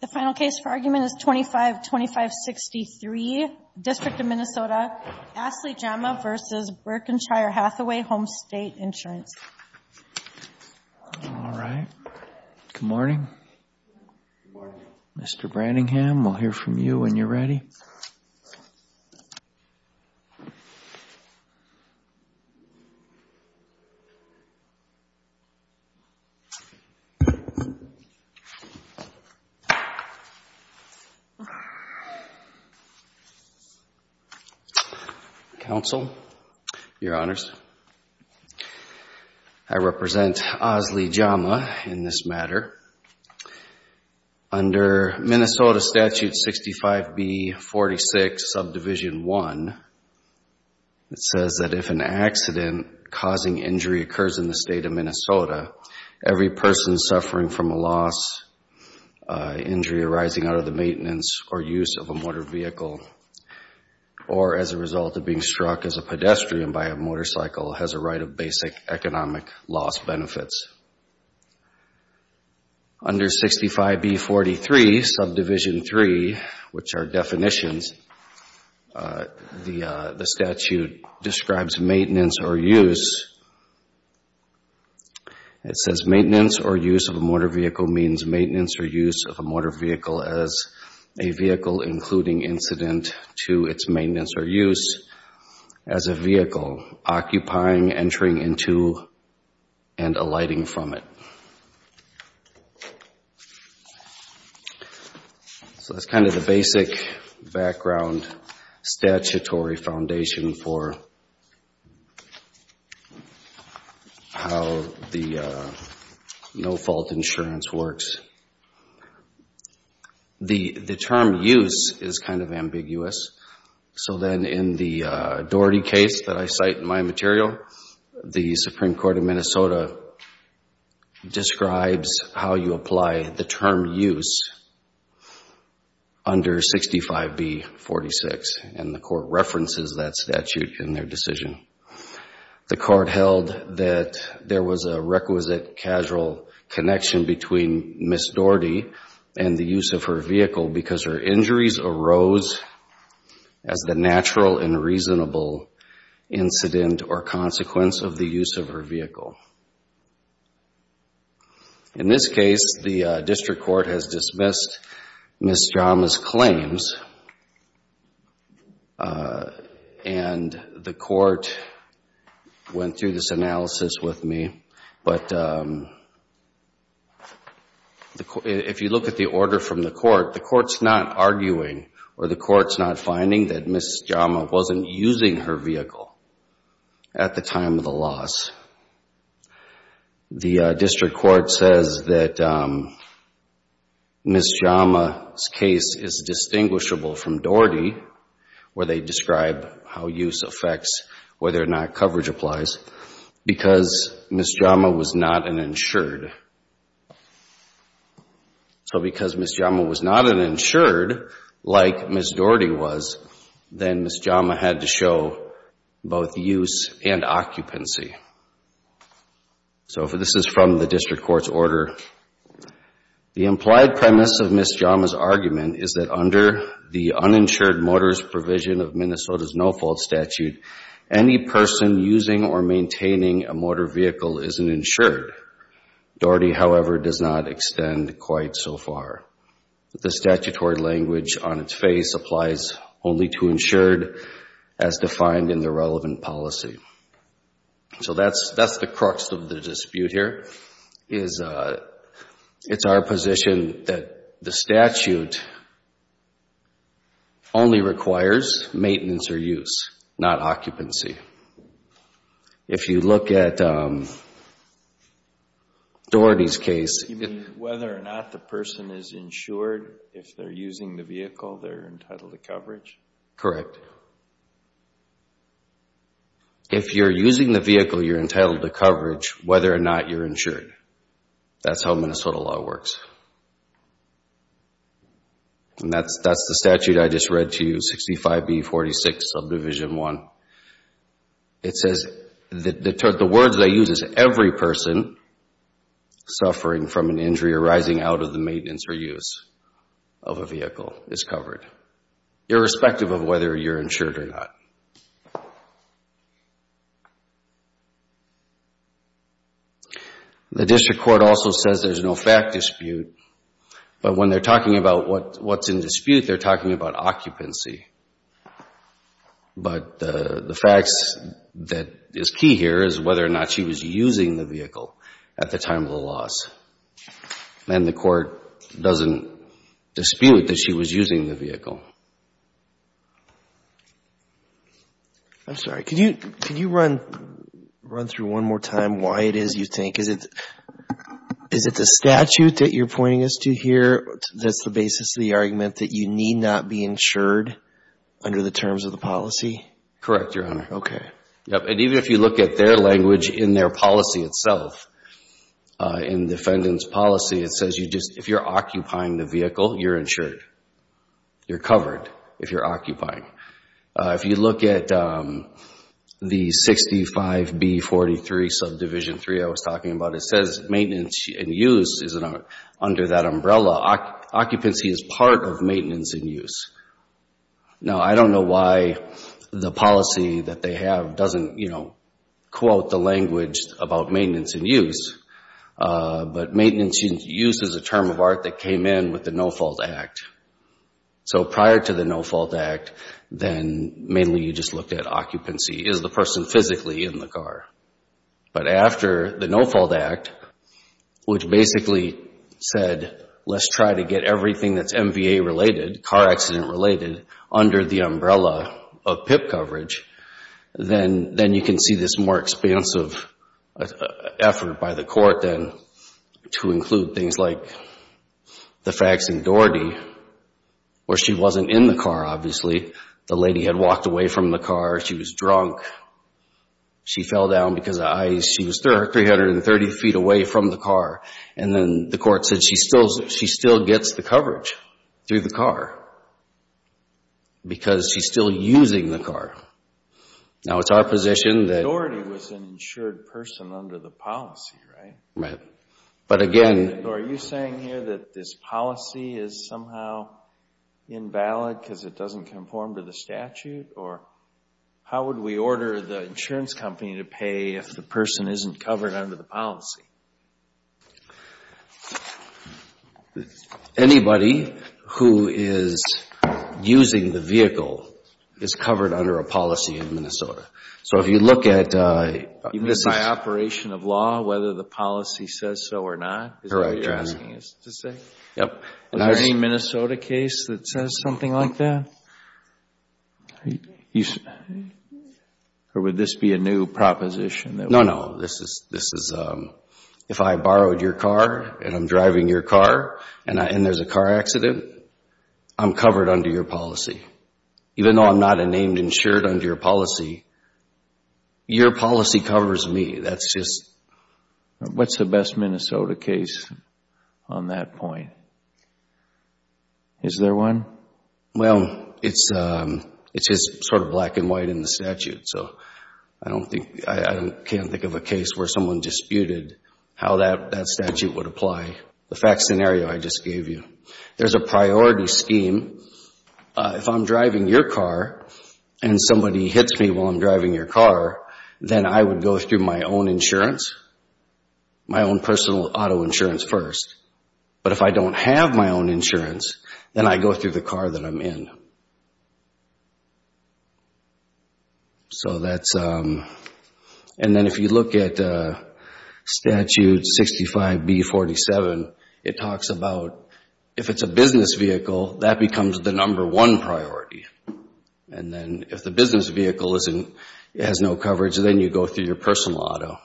The final case for argument is 25-2563, District of Minnesota, Asli Jama v. Berkshire Hathaway Homestate Ins. All right. Good morning. Good morning. Mr. Brandingham, we'll hear from you when you're ready. Counsel, Your Honors, I represent Asli Jama in this matter. Under Minnesota Statute 65B46, Subdivision 1, it says that if an accident causing injury occurs in the State of Minnesota, every person suffering from a loss, injury arising out of the maintenance or use of a motor vehicle, or as a result of being struck as a pedestrian by a motorcycle, has a right of basic economic loss benefits. Under 65B43, Subdivision 3, which are definitions, the statute describes maintenance or use. It says maintenance or use of a motor vehicle means maintenance or use of a motor vehicle as a vehicle including incident to its maintenance or use as a vehicle occupying, entering into, and alighting from it. So that's kind of the basic background statutory foundation for how the no-fault insurance works. The term use is kind of ambiguous. So then in the Doherty case that I cite in my material, the Supreme Court of Minnesota describes how you apply the term use under 65B46, and the court references that statute in their decision. The court held that there was a requisite casual connection between Ms. Doherty and the use of her vehicle because her injuries arose as the natural and reasonable incident or consequence of the use of her vehicle. In this case, the district court has dismissed Ms. Jama's claims, and the court went through this analysis with me. But if you look at the order from the court, the court's not arguing or the court's not finding that Ms. Jama wasn't using her vehicle at the time of the loss. The district court says that Ms. Jama's case is distinguishable from Doherty, where they describe how use affects whether or not coverage applies, because Ms. Jama was not an insured. So because Ms. Jama was not an insured, like Ms. Doherty was, then Ms. Jama had to show both use and occupancy. So this is from the district court's order. The implied premise of Ms. Jama's argument is that under the uninsured motorist provision of Minnesota's no-fault statute, any person using or maintaining a motor vehicle is an insured. Doherty, however, does not extend quite so far. The statutory language on its face applies only to insured as defined in the relevant policy. So that's the crux of the dispute here. It's our position that the statute only requires maintenance or use, not occupancy. If you look at Doherty's case... You mean whether or not the person is insured if they're using the vehicle, they're entitled to coverage? Correct. If you're using the vehicle, you're entitled to coverage whether or not you're insured. That's how Minnesota law works. And that's the statute I just read to you, 65B46 Subdivision 1. It says the words they use is every person suffering from an injury arising out of the maintenance or use of a vehicle is covered, irrespective of whether you're insured or not. The district court also says there's no fact dispute. But when they're talking about what's in dispute, they're talking about occupancy. But the facts that is key here is whether or not she was using the vehicle at the time of the loss. And the court doesn't dispute that she was using the vehicle. I'm sorry. Can you run through one more time why it is you think? Is it the statute that you're pointing us to here that's the basis of the argument that you need not be insured under the terms of the policy? Correct, Your Honor. Okay. And even if you look at their language in their policy itself, in defendant's policy, it says if you're occupying the vehicle, you're insured. You're covered if you're occupying. If you look at the 65B43 subdivision 3 I was talking about, it says maintenance and use is under that umbrella. Occupancy is part of maintenance and use. Now, I don't know why the policy that they have doesn't, you know, quote the language about maintenance and use. But maintenance and use is a term of art that came in with the No-Fault Act. So prior to the No-Fault Act, then mainly you just looked at occupancy. Is the person physically in the car? But after the No-Fault Act, which basically said let's try to get everything that's MVA-related, car accident-related, under the umbrella of PIP coverage, then you can see this more expansive effort by the court then to include things like the facts in Doherty where she wasn't in the car, obviously. The lady had walked away from the car. She was drunk. She fell down because of ice. She was 330 feet away from the car. And then the court said she still gets the coverage through the car because she's still using the car. Now, it's our position that— Doherty was an insured person under the policy, right? Right. But again— Are you saying here that this policy is somehow invalid because it doesn't conform to the statute? Or how would we order the insurance company to pay if the person isn't covered under the policy? Anybody who is using the vehicle is covered under a policy in Minnesota. So if you look at— You mean by operation of law, whether the policy says so or not? Correct, Your Honor. Is that what you're asking us to say? Yep. Is there any Minnesota case that says something like that? Or would this be a new proposition? No, no. This is— If I borrowed your car and I'm driving your car and there's a car accident, I'm covered under your policy. Even though I'm not a named insured under your policy, your policy covers me. That's just— What's the best Minnesota case on that point? Is there one? Well, it's just sort of black and white in the statute. So I don't think—I can't think of a case where someone disputed how that statute would apply. The fact scenario I just gave you. There's a priority scheme. If I'm driving your car and somebody hits me while I'm driving your car, then I would go through my own insurance, my own personal auto insurance first. But if I don't have my own insurance, then I go through the car that I'm in. So that's—and then if you look at Statute 65B-47, it talks about if it's a business vehicle, that becomes the number one priority. And then if the business vehicle has no coverage, then you go through your personal auto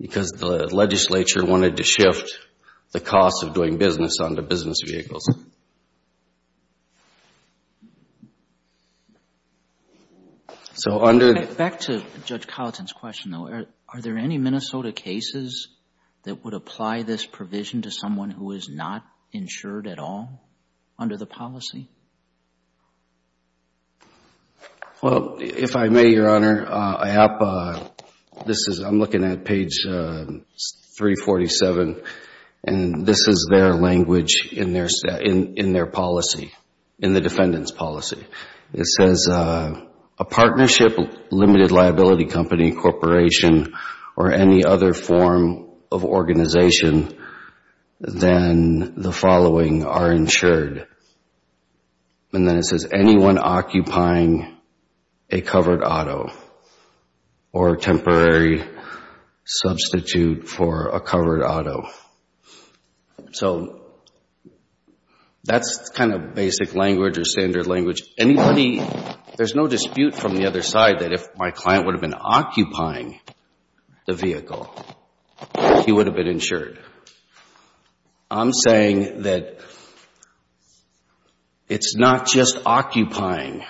because the legislature wanted to shift the cost of doing business onto business vehicles. So under— Back to Judge Colleton's question, though. Are there any Minnesota cases that would apply this provision to someone who is not insured at all under the policy? Well, if I may, Your Honor, I'm looking at page 347, and this is their language in their policy, in the defendant's policy. It says, a partnership, limited liability company, corporation, or any other form of organization, then the following are insured. And then it says, anyone occupying a covered auto or a temporary substitute for a covered auto. So that's kind of basic language or standard language. Anybody—there's no dispute from the other side that if my client would have been occupying the vehicle, he would have been insured. I'm saying that it's not just occupying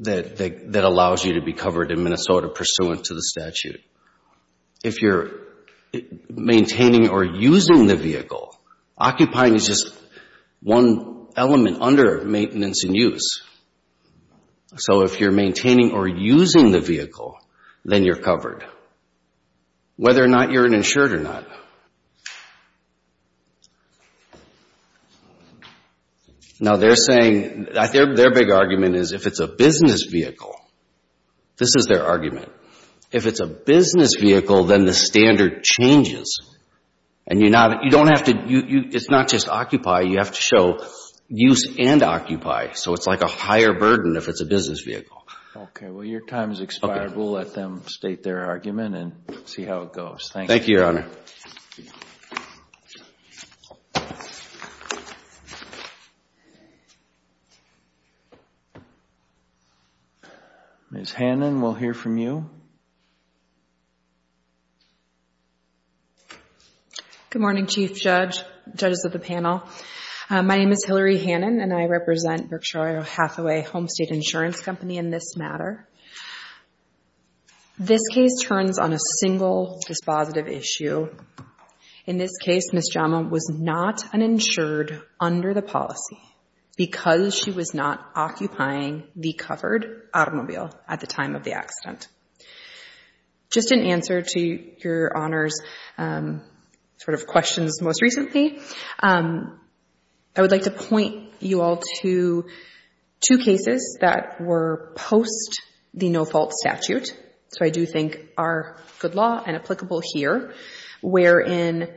that allows you to be covered in Minnesota pursuant to the statute. If you're maintaining or using the vehicle, occupying is just one element under maintenance and use. So if you're maintaining or using the vehicle, then you're covered, whether or not you're insured or not. Now, they're saying—their big argument is if it's a business vehicle. This is their argument. If it's a business vehicle, then the standard changes. And you don't have to—it's not just occupy, you have to show use and occupy. So it's like a higher burden if it's a business vehicle. Okay. Well, your time has expired. We'll let them state their argument and see how it goes. Thank you. Thank you, Your Honor. Ms. Hannon, we'll hear from you. Good morning, Chief Judge, judges of the panel. My name is Hillary Hannon, and I represent Berkshire Hathaway Home State Insurance Company in this matter. This case turns on a single dispositive issue. In this case, Ms. Jama was not uninsured under the policy because she was not occupying the covered automobile at the time of the accident. Just in answer to Your Honor's sort of questions most recently, I would like to point you all to two cases that were post the no-fault statute, so I do think are good law and applicable here, wherein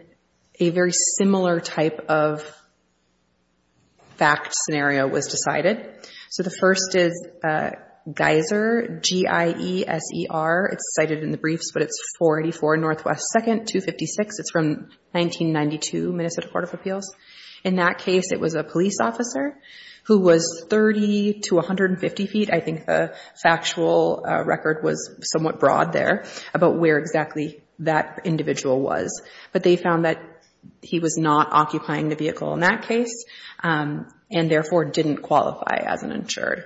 a very similar type of fact scenario was decided. So the first is Geiser, G-I-E-S-E-R. It's cited in the briefs, but it's 484 Northwest 2nd, 256. It's from 1992, Minnesota Court of Appeals. In that case, it was a police officer who was 30 to 150 feet. I think the factual record was somewhat broad there about where exactly that individual was, but they found that he was not occupying the vehicle in that case, and therefore didn't qualify as an insured.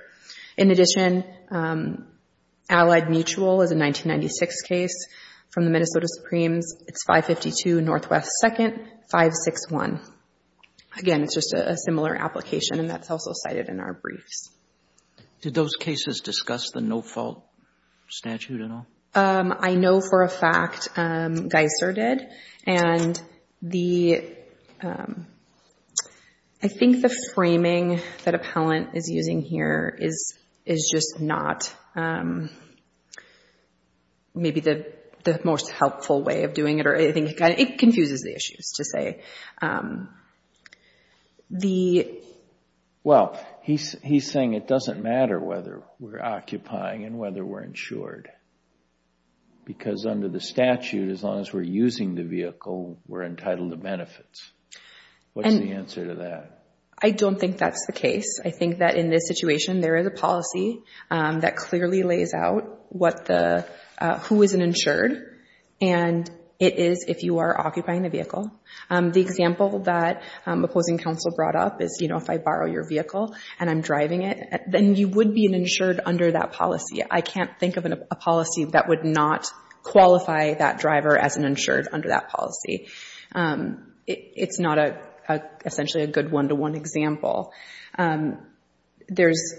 In addition, Allied Mutual is a 1996 case from the Minnesota Supremes. It's 552 Northwest 2nd, 561. Again, it's just a similar application, and that's also cited in our briefs. Did those cases discuss the no-fault statute at all? I know for a fact Geiser did, and I think the framing that Appellant is using here is just not maybe the most helpful way of doing it. It confuses the issues, to say. Well, he's saying it doesn't matter whether we're occupying and whether we're insured, because under the statute, as long as we're using the vehicle, we're entitled to benefits. What's the answer to that? I don't think that's the case. I think that in this situation, there is a policy that clearly lays out who isn't insured, and it is if you are occupying the vehicle. The example that opposing counsel brought up is if I borrow your vehicle and I'm driving it, then you would be an insured under that policy. I can't think of a policy that would not qualify that driver as an insured under that policy. It's not essentially a good one-to-one example. There's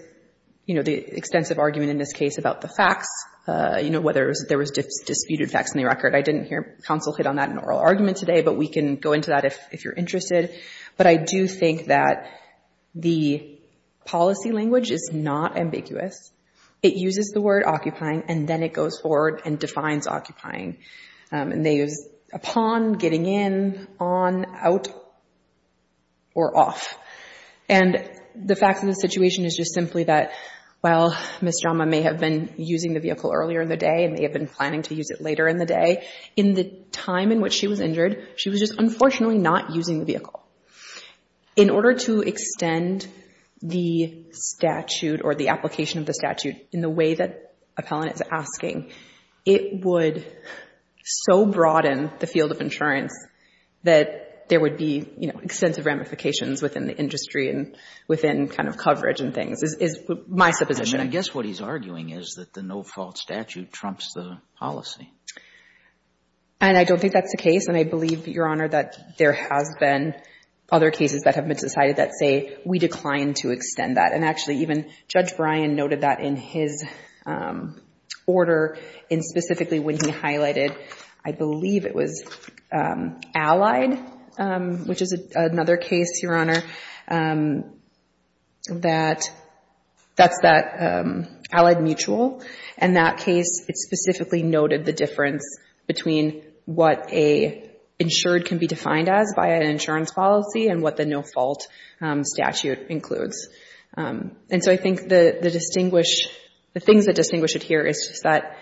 the extensive argument in this case about the facts, whether there was disputed facts in the record. I didn't hear counsel hit on that in oral argument today, but we can go into that if you're interested. But I do think that the policy language is not ambiguous. It uses the word occupying, and then it goes forward and defines occupying. And they use upon, getting in, on, out, or off. And the facts of the situation is just simply that, well, Ms. Jama may have been using the vehicle earlier in the day and may have been planning to use it later in the day. In the time in which she was injured, she was just unfortunately not using the vehicle. In order to extend the statute or the application of the statute in the way that Appellant is asking, it would so broaden the field of insurance that there would be, you know, extensive ramifications within the industry and within kind of coverage and things is my supposition. And I guess what he's arguing is that the no-fault statute trumps the policy. And I don't think that's the case. And I believe, Your Honor, that there has been other cases that have been decided that say we decline to extend that. And actually even Judge Bryan noted that in his order in specifically when he highlighted, I believe it was allied, which is another case, Your Honor, that's that allied mutual. In that case, it specifically noted the difference between what a insured can be defined as by an insurance policy and what the no-fault statute includes. And so I think the things that distinguish it here is that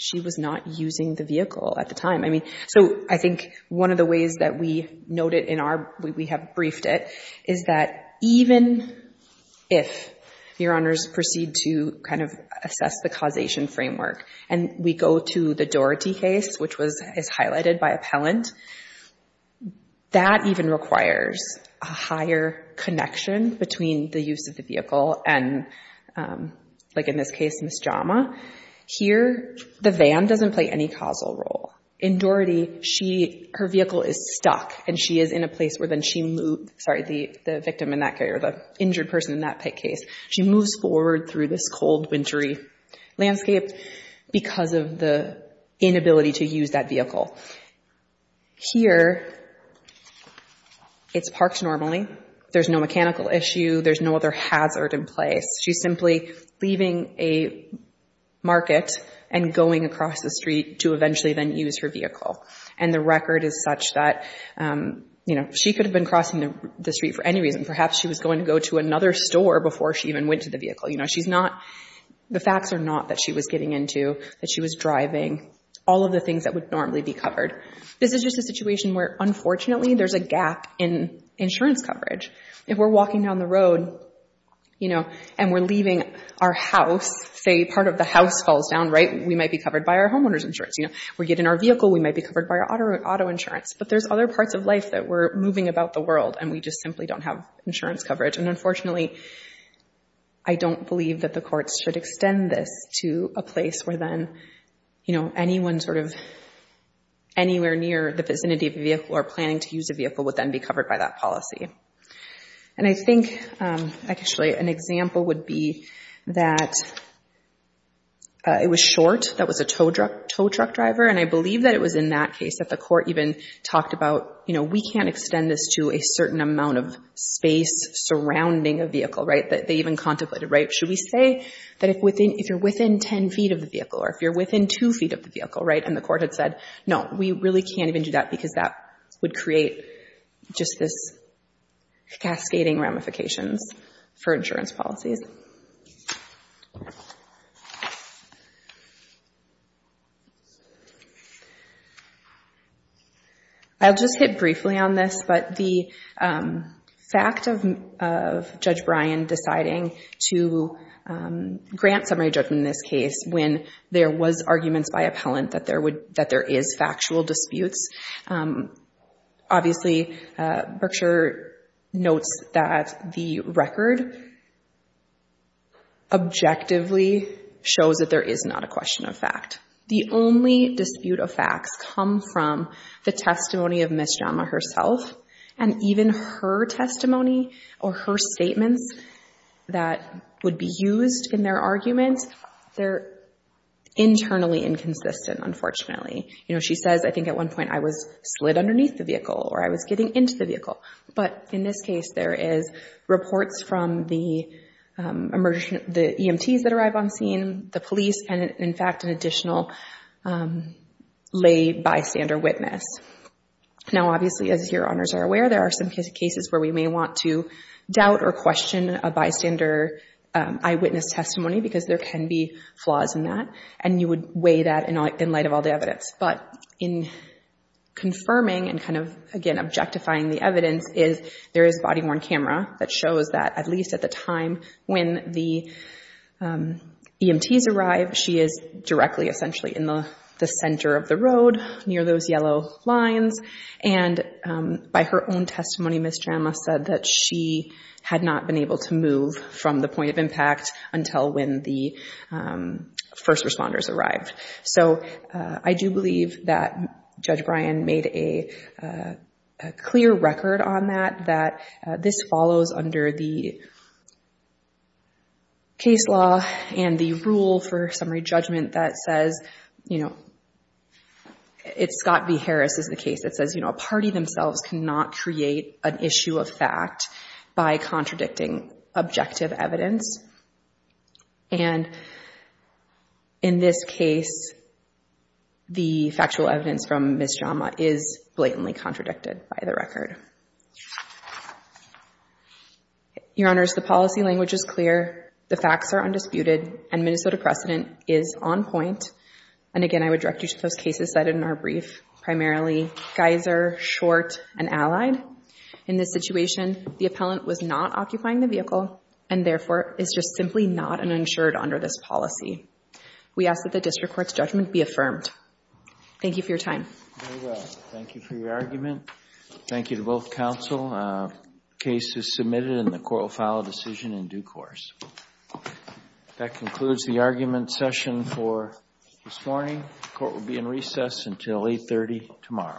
she was not using the vehicle at the time. I mean, so I think one of the ways that we noted in our, we have briefed it, is that even if, Your Honors, proceed to kind of assess the causation framework and we go to the Doherty case, which is highlighted by Appellant, that even requires a higher connection between the use of the vehicle and, like in this case, Ms. Jama. Here, the van doesn't play any causal role. In Doherty, her vehicle is stuck and she is in a place where then she moves, sorry, the victim in that case or the injured person in that case, she moves forward through this cold, wintry landscape because of the inability to use that vehicle. Here, it's parked normally. There's no mechanical issue. There's no other hazard in place. She's simply leaving a market and going across the street to eventually then use her vehicle. And the record is such that, you know, she could have been crossing the street for any reason. Perhaps she was going to go to another store before she even went to the vehicle. You know, she's not, the facts are not that she was getting into, that she was driving. All of the things that would normally be covered. This is just a situation where, unfortunately, there's a gap in insurance coverage. If we're walking down the road, you know, and we're leaving our house, say part of the house falls down, right, we might be covered by our homeowner's insurance. You know, we get in our vehicle, we might be covered by our auto insurance. But there's other parts of life that we're moving about the world and we just simply don't have insurance coverage. And unfortunately, I don't believe that the courts should extend this to a place where then, you know, anyone sort of anywhere near the vicinity of a vehicle or planning to use a vehicle would then be covered by that policy. And I think, actually, an example would be that it was Short that was a tow truck driver. And I believe that it was in that case that the court even talked about, you know, we can't extend this to a certain amount of space surrounding a vehicle, right, that they even contemplated, right? Should we say that if you're within 10 feet of the vehicle or if you're within 2 feet of the vehicle, right, and the court had said, no, we really can't even do that because that would create just this cascading ramifications for insurance policies. I'll just hit briefly on this, but the fact of Judge Bryan deciding to grant summary judgment in this case when there was arguments by appellant that there is factual disputes, obviously Berkshire notes that the record objectively shows that there is not a question of fact. The only dispute of facts come from the testimony of Ms. Jama herself, and even her testimony or her statements that would be used in their arguments, they're internally inconsistent, unfortunately. You know, she says, I think at one point I was slid underneath the vehicle or I was getting into the vehicle. But in this case, there is reports from the EMTs that arrive on scene, the police, and in fact, an additional lay bystander witness. Now, obviously, as your honors are aware, there are some cases where we may want to doubt or question a bystander eyewitness testimony because there can be flaws in that, and you would weigh that in light of all the evidence. But in confirming and kind of, again, objectifying the evidence is there is a body-worn camera that shows that at least at the time when the EMTs arrive, she is directly essentially in the center of the road near those yellow lines. And by her own testimony, Ms. Jama said that she had not been able to move from the point of impact until when the first responders arrived. So I do believe that Judge Bryan made a clear record on that, that this follows under the case law and the rule for summary judgment that says, you know, it's Scott v. Harris is the case that says, you know, a party themselves cannot create an issue of fact by contradicting objective evidence. And in this case, the factual evidence from Ms. Jama is blatantly contradicted by the record. Your honors, the policy language is clear, the facts are undisputed, and Minnesota precedent is on point. And again, I would direct you to those cases cited in our brief, primarily Geyser, Short, and Allied. In this situation, the appellant was not occupying the vehicle and therefore is just simply not an insured under this policy. We ask that the district court's judgment be affirmed. Thank you for your time. Thank you for your argument. Thank you to both counsel. The case is submitted and the court will file a decision in due course. That concludes the argument session for this morning. The court will be in recess until 8.30 tomorrow.